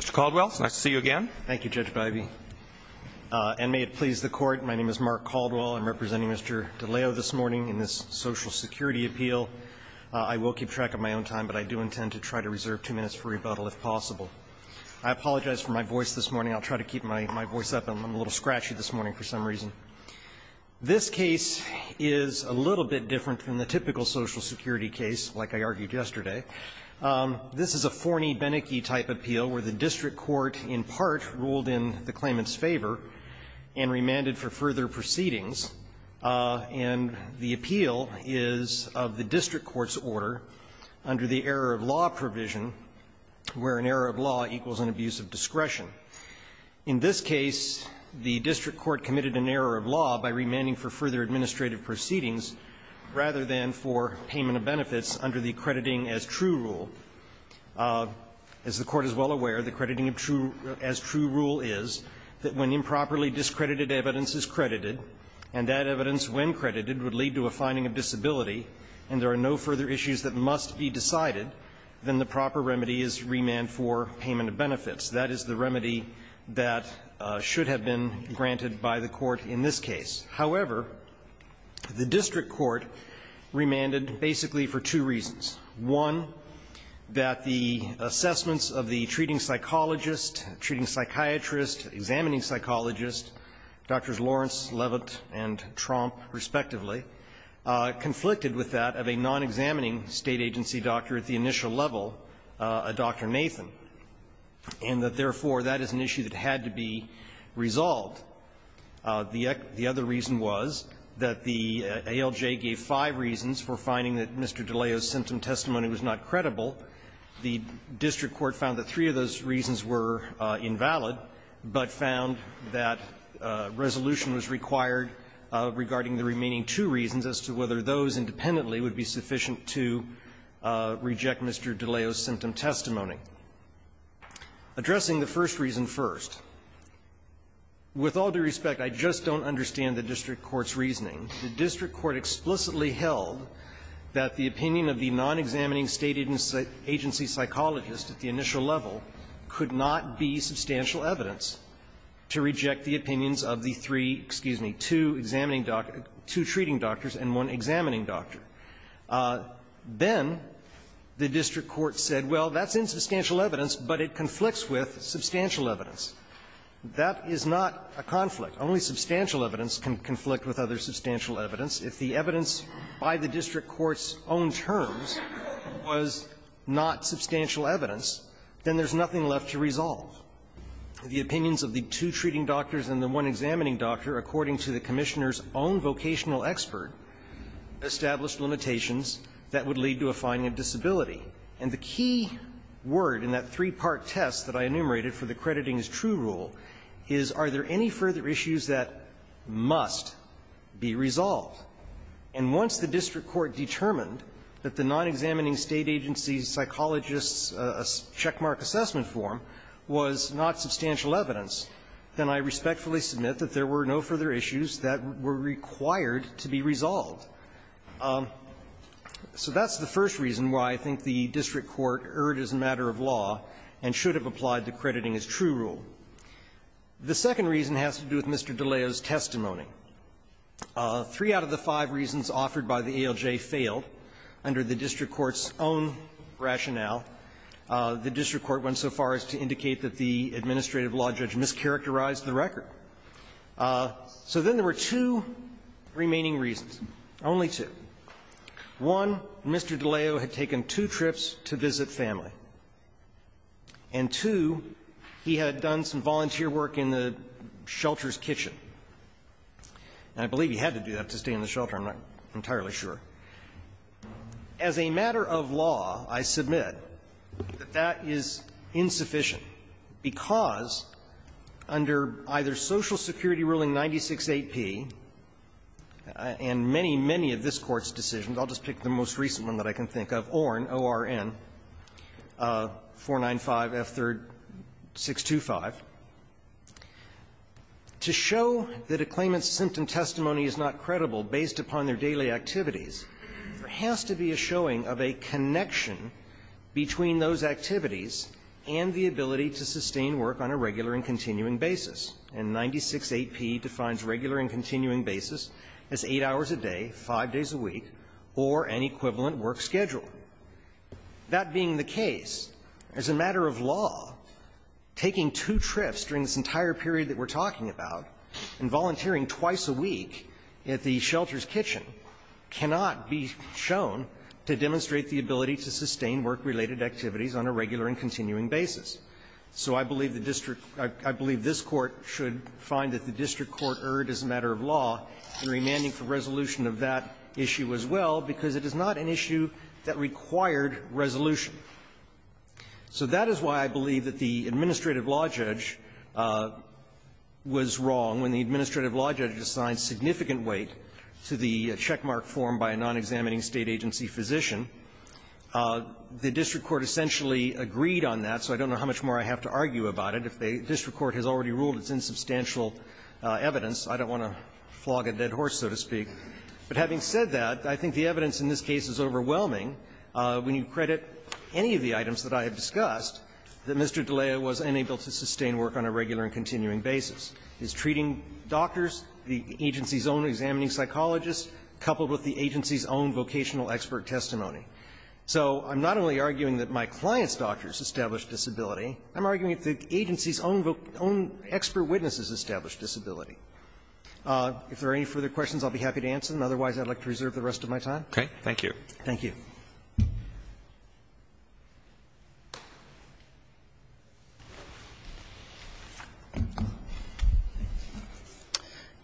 Mr. Caldwell, it's nice to see you again. Thank you, Judge Bivey. And may it please the court, my name is Mark Caldwell. I'm representing Mr. Deleo this morning in this social security appeal. I will keep track of my own time, but I do intend to try to reserve two minutes for rebuttal if possible. I apologize for my voice this morning. I'll try to keep my voice up. I'm a little scratchy this morning for some reason. This case is a little bit different than the typical social security case like I argued yesterday. This is a Forney-Bennecke type appeal where the district court in part ruled in the claimant's favor and remanded for further proceedings. And the appeal is of the district court's order under the error of law provision where an error of law equals an abuse of discretion. In this case, the district court committed an error of law by remanding for further administrative proceedings rather than for payment of benefits under the crediting as true rule. As the Court is well aware, the crediting of true as true rule is that when improperly discredited evidence is credited, and that evidence when credited would lead to a finding of disability, and there are no further issues that must be decided, then the proper remedy is remand for payment of benefits. That is the remedy that should have been granted by the Court in this case. However, the district court remanded basically for two reasons. One, that the assessments of the treating psychologist, treating psychiatrist, examining psychologist, Drs. Lawrence, Levitt, and Tromp, respectively, conflicted with that of a non-examining State agency doctor at the initial level, a Dr. Nathan, and that therefore that is an that the ALJ gave five reasons for finding that Mr. DiLeo's symptom testimony was not credible. The district court found that three of those reasons were invalid, but found that resolution was required regarding the remaining two reasons as to whether those independently would be sufficient to reject Mr. DiLeo's symptom testimony. Addressing the first reason first, with all due respect, I just don't understand the district court's reasoning. The district court explicitly held that the opinion of the non-examining State agency psychologist at the initial level could not be substantial evidence to reject the opinions of the three, excuse me, two examining doctor to treating doctors and one examining doctor. Then the district court said, well, that's insubstantial evidence, but it conflicts with substantial evidence. That is not a conflict. Only substantial evidence can conflict with other substantial evidence. If the evidence by the district court's own terms was not substantial evidence, then there's nothing left to resolve. The opinions of the two treating doctors and the one examining doctor, according to the Commissioner's own vocational expert, established limitations that would lead to a finding of disability. And the key word in that three-part test that I enumerated for the crediting is true rule is, are there any further issues that must be resolved? And once the district court determined that the non-examining State agency psychologist's checkmark assessment form was not substantial evidence, then I respectfully submit that there were no further issues that were required to be resolved. So that's the first reason why I think the district court erred as a matter of law and should have applied the crediting as true rule. The second reason has to do with Mr. DiLeo's testimony. Three out of the five reasons offered by the ALJ failed. Under the district court's own rationale, the district court went so far as to indicate that the administrative law judge mischaracterized the record. So then there were two remaining reasons, only two. One, Mr. DiLeo had taken two trips to visit family. And, two, he had done some volunteer work in the shelter's kitchen. And I believe he had to do that to stay in the shelter. I'm not entirely sure. As a matter of law, I submit that that is insufficient because under either Social Security ruling 96-8P and many, many of this Court's decisions, I'll just pick the most recent one that I can think of, ORN, O-R-N, 495F3-625, to show that a claimant's symptom testimony is not credible based upon their daily activities, there has to be a showing of a connection between those activities and the ability to sustain work on a regular and continuing basis. And 96-8P defines regular and continuing basis as 8 hours a day, 5 days a week, or an equivalent work schedule. That being the case, as a matter of law, taking two trips during this entire period that we're talking about and volunteering twice a week at the shelter's kitchen cannot be shown to demonstrate the ability to sustain work-related activities on a regular and continuing basis. So I believe the district – I believe this Court should find that the district court erred as a matter of law in remanding for resolution of that issue as well, because it is not an issue that required resolution. So that is why I believe that the administrative law judge was wrong when the administrative law judge assigned significant weight to the checkmark form by a non-examining State agency physician The district court essentially agreed on that, so I don't know how much more I have to argue about it. If the district court has already ruled it's insubstantial evidence, I don't want to flog a dead horse, so to speak. But having said that, I think the evidence in this case is overwhelming when you credit any of the items that I have discussed, that Mr. D'Elia was unable to sustain work on a regular and continuing basis. His treating doctors, the agency's own examining psychologist, coupled with the agency's own vocational expert testimony. So I'm not only arguing that my client's doctors established disability. I'm arguing that the agency's own expert witnesses established disability. If there are any further questions, I'll be happy to answer them. Otherwise, I'd like to reserve the rest of my time. Roberts. Okay. Thank you.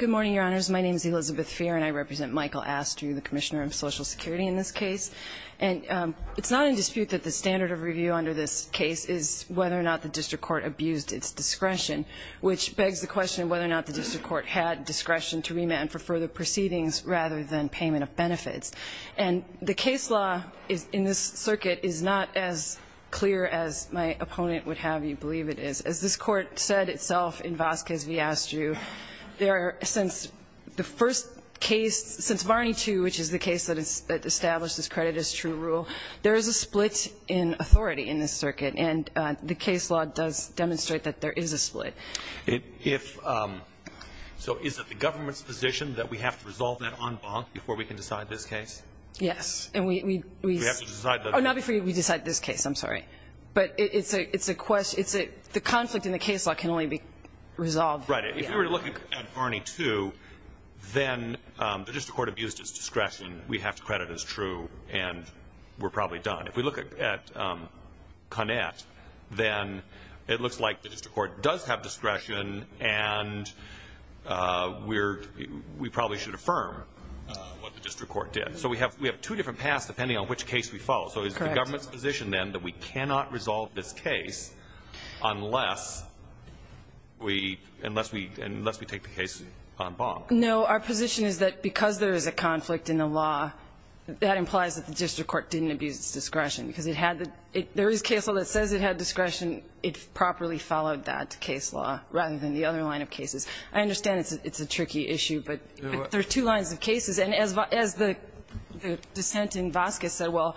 Farr, and I represent Michael Astre, the Commissioner of Social Security. And it's not in dispute that the standard of review under this case is whether or not the district court abused its discretion, which begs the question of whether or not the district court had discretion to remand for further proceedings rather than payment of benefits. And the case law in this circuit is not as clear as my opponent would have you believe it is. As this Court said itself in Vasquez v. Astre, since the first case, since it established this credit as true rule, there is a split in authority in this circuit. And the case law does demonstrate that there is a split. So is it the government's position that we have to resolve that en banc before we can decide this case? Yes. And we have to decide that. Oh, not before we decide this case. I'm sorry. But it's a question. The conflict in the case law can only be resolved. Right. If you were to look at Barney 2, then the district court abused its discretion. We have credit as true. And we're probably done. If we look at Connett, then it looks like the district court does have discretion. And we're we probably should affirm what the district court did. So we have we have two different paths, depending on which case we follow. So is the government's position then that we cannot resolve this case unless we unless we unless we take the case en banc? No. Our position is that because there is a conflict in the law, that implies that the district court didn't abuse its discretion because it had the there is case law that says it had discretion. It properly followed that case law rather than the other line of cases. I understand it's a tricky issue, but there are two lines of cases. And as as the dissent in Vasquez said, well,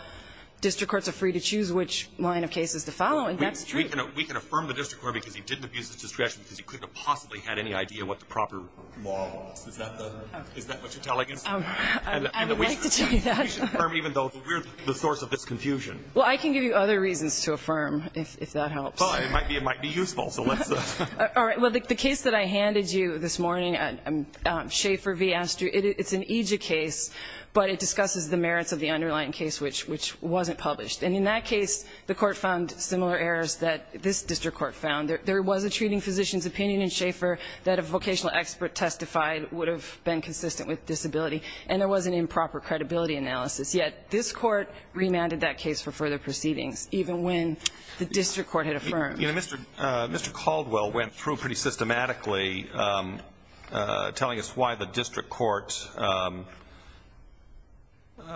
district courts are free to choose which line of cases to follow. And that's true. We can affirm the district court because he didn't abuse his discretion because he couldn't have possibly had any idea what the proper law was. Is that the is that what you're telling us? I would like to tell you that. We should affirm even though we're the source of this confusion. Well, I can give you other reasons to affirm if that helps. Well, it might be it might be useful. So let's all right. Well, the case that I handed you this morning, Schaefer v. Astreux, it's an EJIA case, but it discusses the merits of the underlying case, which which wasn't published. And in that case, the court found similar errors that this district court found. There was a treating physician's opinion in Schaefer that a vocational expert testified would have been consistent with disability, and there was an improper credibility analysis. Yet this court remanded that case for further proceedings, even when the district court had affirmed. You know, Mr. Mr. Caldwell went through pretty systematically, telling us why the district court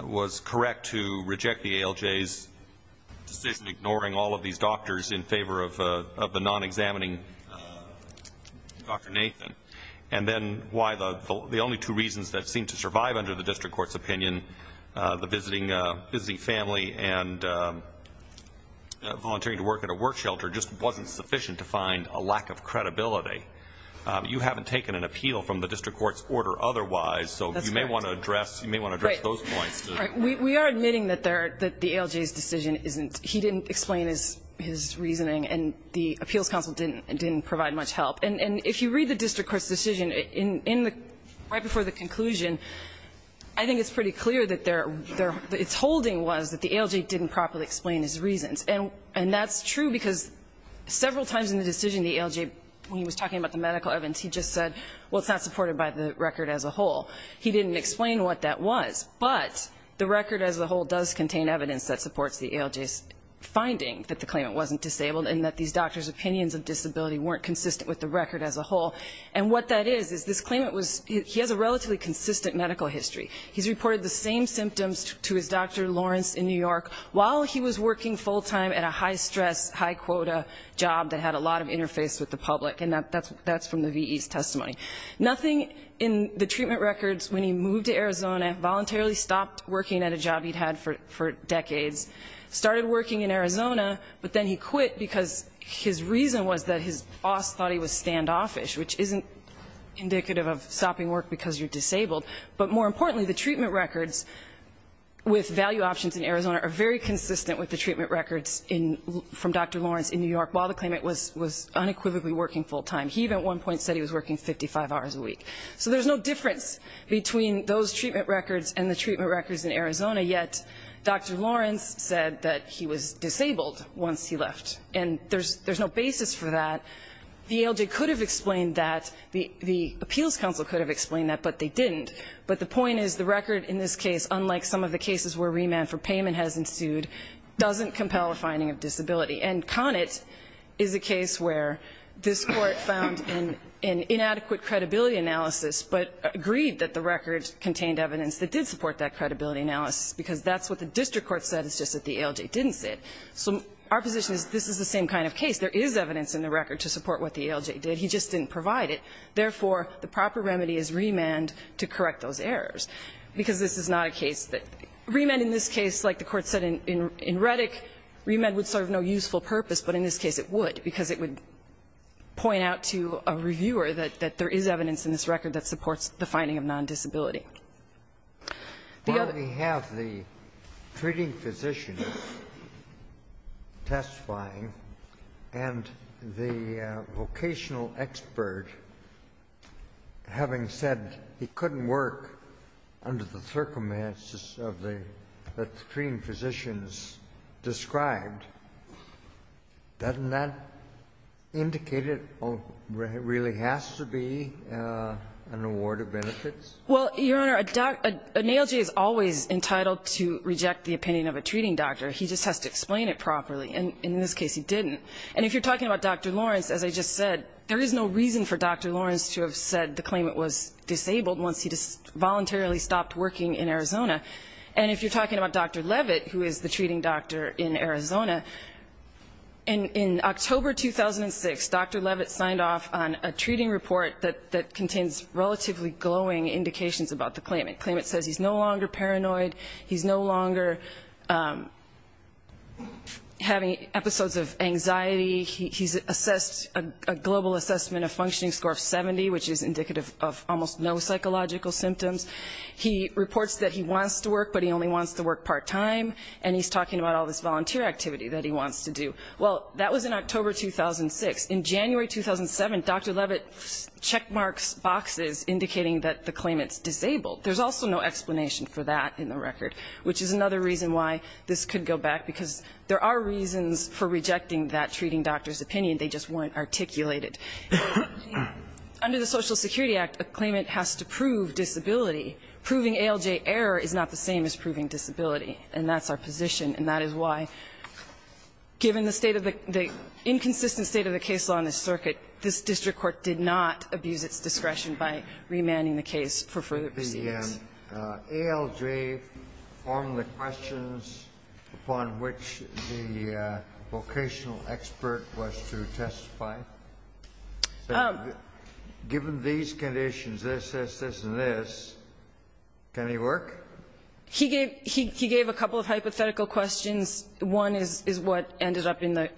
was correct to reject the ALJ's decision, ignoring all of these doctors in favor of the non-examining Dr. Nathan. And then why the only two reasons that seemed to survive under the district court's opinion, the visiting family and volunteering to work at a work shelter, just wasn't sufficient to find a lack of credibility. You haven't taken an appeal from the district court's order otherwise, so you may want to address those points. We are admitting that the ALJ's decision isn't, he didn't explain his reasoning, and the appeals council didn't provide much help. And if you read the district court's decision, right before the conclusion, I think it's pretty clear that it's holding was that the ALJ didn't properly explain his reasons. And that's true because several times in the decision, the ALJ, when he was talking about the medical evidence, he just said, well, it's not supported by the record as a whole. He didn't explain what that was. But the record as a whole does contain evidence that supports the ALJ's finding that the claimant wasn't disabled, and that these doctors' opinions of disability weren't consistent with the record as a whole. And what that is, is this claimant was, he has a relatively consistent medical history. He's reported the same symptoms to his doctor, Lawrence, in New York, while he was working full time at a high stress, high quota job that had a lot of interface with the public, and that's from the VE's testimony. Nothing in the treatment records, when he moved to Arizona, voluntarily stopped working at a job he'd had for decades. Started working in Arizona, but then he quit because his reason was that his boss thought he was standoffish, which isn't indicative of stopping work because you're disabled. But more importantly, the treatment records with value options in Arizona are very consistent with the treatment records from Dr. Lawrence in New York, while the claimant was unequivocally working full time. He, at one point, said he was working 55 hours a week. So there's no difference between those treatment records and the treatment records in Arizona, yet Dr. Lawrence said that he was disabled once he left, and there's no basis for that. The ALJ could have explained that, the Appeals Council could have explained that, but they didn't. But the point is, the record in this case, unlike some of the cases where remand for payment has ensued, doesn't compel a finding of disability. And Connett is a case where this Court found an inadequate credibility analysis, but agreed that the record contained evidence that did support that credibility analysis, because that's what the district court said, it's just that the ALJ didn't say it. So our position is this is the same kind of case. There is evidence in the record to support what the ALJ did. He just didn't provide it. Therefore, the proper remedy is remand to correct those errors, because this is not a case that. Remand in this case, like the Court said in Reddick, remand would serve no useful purpose, but in this case it would, because it would point out to a reviewer that there is evidence in this record that supports the finding of non-disability. The other. Kennedy, we have the treating physician testifying, and the vocational expert having said he couldn't work under the circumstances of the treating physicians described. Doesn't that indicate it really has to be an award of benefits? Well, Your Honor, an ALJ is always entitled to reject the opinion of a treating doctor. He just has to explain it properly, and in this case he didn't. And if you're talking about Dr. Lawrence, as I just said, there is no reason for Dr. Lawrence to have said the claimant was disabled once he voluntarily stopped working in Arizona. And if you're talking about Dr. Levitt, who is the treating doctor in Arizona, in October 2006, Dr. Levitt signed off on a treating report that contains relatively glowing indications about the claimant. The claimant says he's no longer paranoid, he's no longer having episodes of anxiety, he's assessed a global assessment of functioning score of 70, which is indicative of almost no psychological symptoms. He reports that he wants to work, but he only wants to work part-time, and he's talking about all this volunteer activity that he wants to do. Well, that was in October 2006. In January 2007, Dr. Levitt checkmarks boxes indicating that the claimant is disabled. There's also no explanation for that in the record, which is another reason why this could go back, because there are reasons for rejecting that treating doctor's opinion. They just weren't articulated. Under the Social Security Act, a claimant has to prove disability. Proving ALJ error is not the same as proving disability, and that's our position, and that is why, given the state of the the inconsistent state of the case law in this circuit, this district court did not abuse its discretion by remanding the case for further proceedings. Alj, on the questions upon which the vocational expert was to testify, given these conditions, this, this, this, and this, can he work? He gave, he gave a couple of hypothetical questions. One is what ended up in the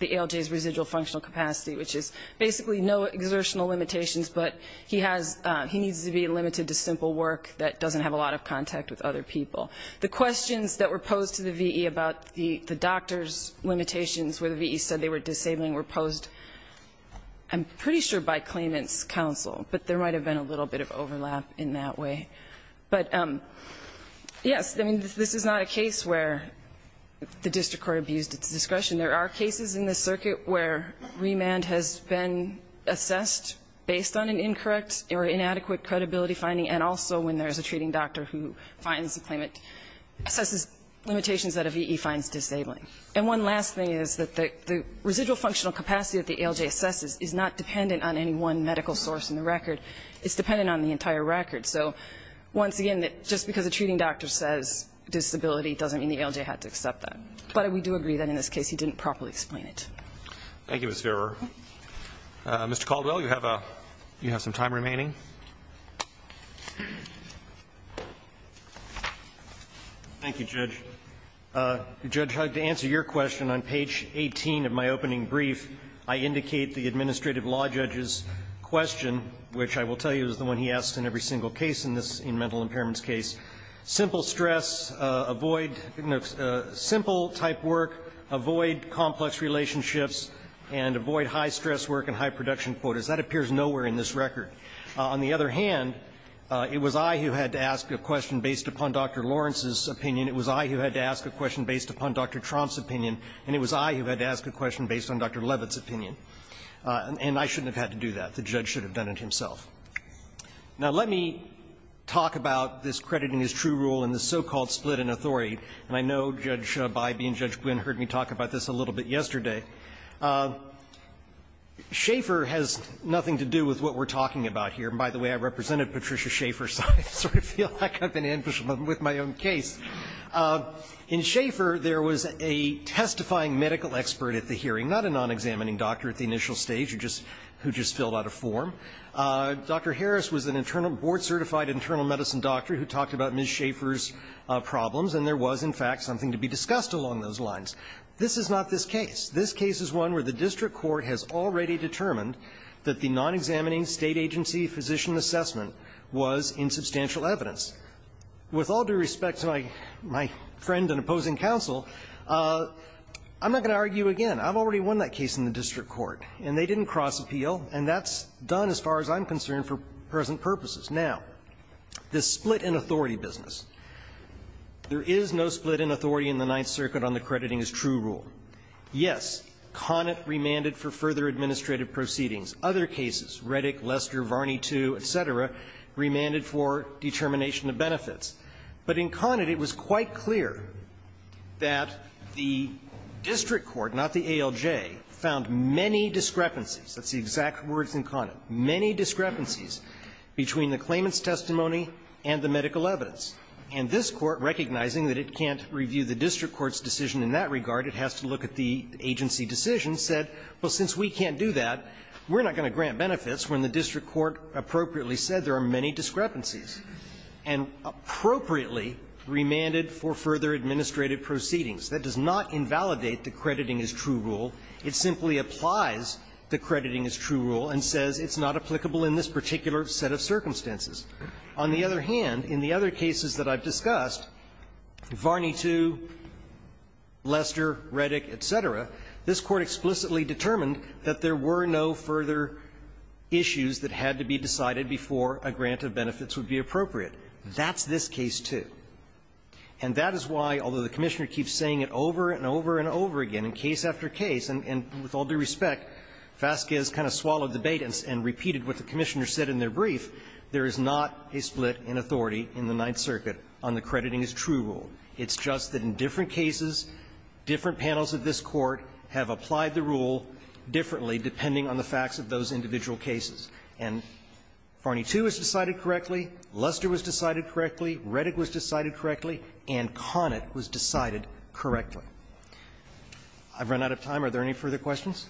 ALJ's residual functional capacity, which is basically no exertional limitations, but he has, he needs to be limited to simple work that doesn't have a lot of contact with other people. The questions that were posed to the V.E. about the doctor's limitations where the V.E. said they were disabling were posed, I'm pretty sure by claimant's counsel, but there might have been a little bit of overlap in that way. But, yes, I mean, this is not a case where the district court abused its discretion. There are cases in this circuit where remand has been assessed based on an incorrect or inadequate credibility finding, and also when there's a treating doctor who finds a claimant, assesses limitations that a V.E. finds disabling. And one last thing is that the residual functional capacity that the ALJ assesses is not dependent on any one medical source in the record. It's dependent on the entire record. So once again, just because a treating doctor says disability doesn't mean the ALJ had to accept that. But we do agree that in this case he didn't properly explain it. Roberts. Thank you, Ms. Verver. Mr. Caldwell, you have a, you have some time remaining. Thank you, Judge. Judge, to answer your question on page 18 of my opening brief, I indicate the administrative law judge's question, which I will tell you is the one he asks in every single case in this, in mental impairments case, simple stress, avoid, you know, simple type work, avoid complex relationships, and avoid high stress work and high production quotas. That appears nowhere in this record. On the other hand, it was I who had to ask a question based upon Dr. Lawrence's opinion. It was I who had to ask a question based upon Dr. Tromp's opinion, and it was I who had to ask a question based on Dr. Levitt's opinion. And I shouldn't have had to do that. The judge should have done it himself. Now, let me talk about this crediting his true rule in the so-called split in authority. And I know Judge Bybee and Judge Gwinn heard me talk about this a little bit yesterday. Schaefer has nothing to do with what we're talking about here. And by the way, I represented Patricia Schaefer, so I sort of feel like I've been ambushing them with my own case. In Schaefer, there was a testifying medical expert at the hearing, not a non-examining doctor at the initial stage who just filled out a form. Dr. Harris was a board-certified internal medicine doctor who talked about Ms. Schaefer's problems, and there was, in fact, something to be discussed along those lines. This is not this case. This case is one where the district court has already determined that the non-examining state agency physician assessment was insubstantial evidence. With all due respect to my friend and opposing counsel, I'm not going to argue again. I've already won that case in the district court, and they didn't cross-appeal, and that's done as far as I'm concerned for present purposes. Now, the split in authority business. There is no split in authority in the Ninth Circuit on the crediting as true rule. Yes, Conant remanded for further administrative proceedings. Other cases, Reddick, Lester, Varney II, et cetera, remanded for determination of benefits. But in Conant, it was quite clear that the district court, not the ALJ, found many discrepancies. That's the exact words in Conant, many discrepancies, between the claimant's testimony and the medical evidence. And this Court, recognizing that it can't review the district court's decision in that regard, it has to look at the agency decision, said, well, since we can't do that, we're not going to grant benefits when the district court appropriately said there are many discrepancies. And appropriately remanded for further administrative proceedings. That does not invalidate the crediting as true rule. It simply applies the crediting as true rule and says it's not applicable in this particular set of circumstances. On the other hand, in the other cases that I've discussed, Varney II, Lester, Reddick, et cetera, this Court explicitly determined that there were no further issues that could be appropriate. That's this case, too. And that is why, although the Commissioner keeps saying it over and over and over again in case after case, and with all due respect, Vasquez kind of swallowed the bait and repeated what the Commissioner said in their brief, there is not a split in authority in the Ninth Circuit on the crediting as true rule. It's just that in different cases, different panels of this Court have applied the rule differently depending on the facts of those individual cases. And Varney II was decided correctly, Lester was decided correctly, Reddick was decided correctly, and Connett was decided correctly. I've run out of time. Are there any further questions?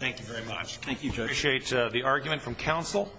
Roberts. Thank you very much. Thank you, Judge. I appreciate the argument from counsel.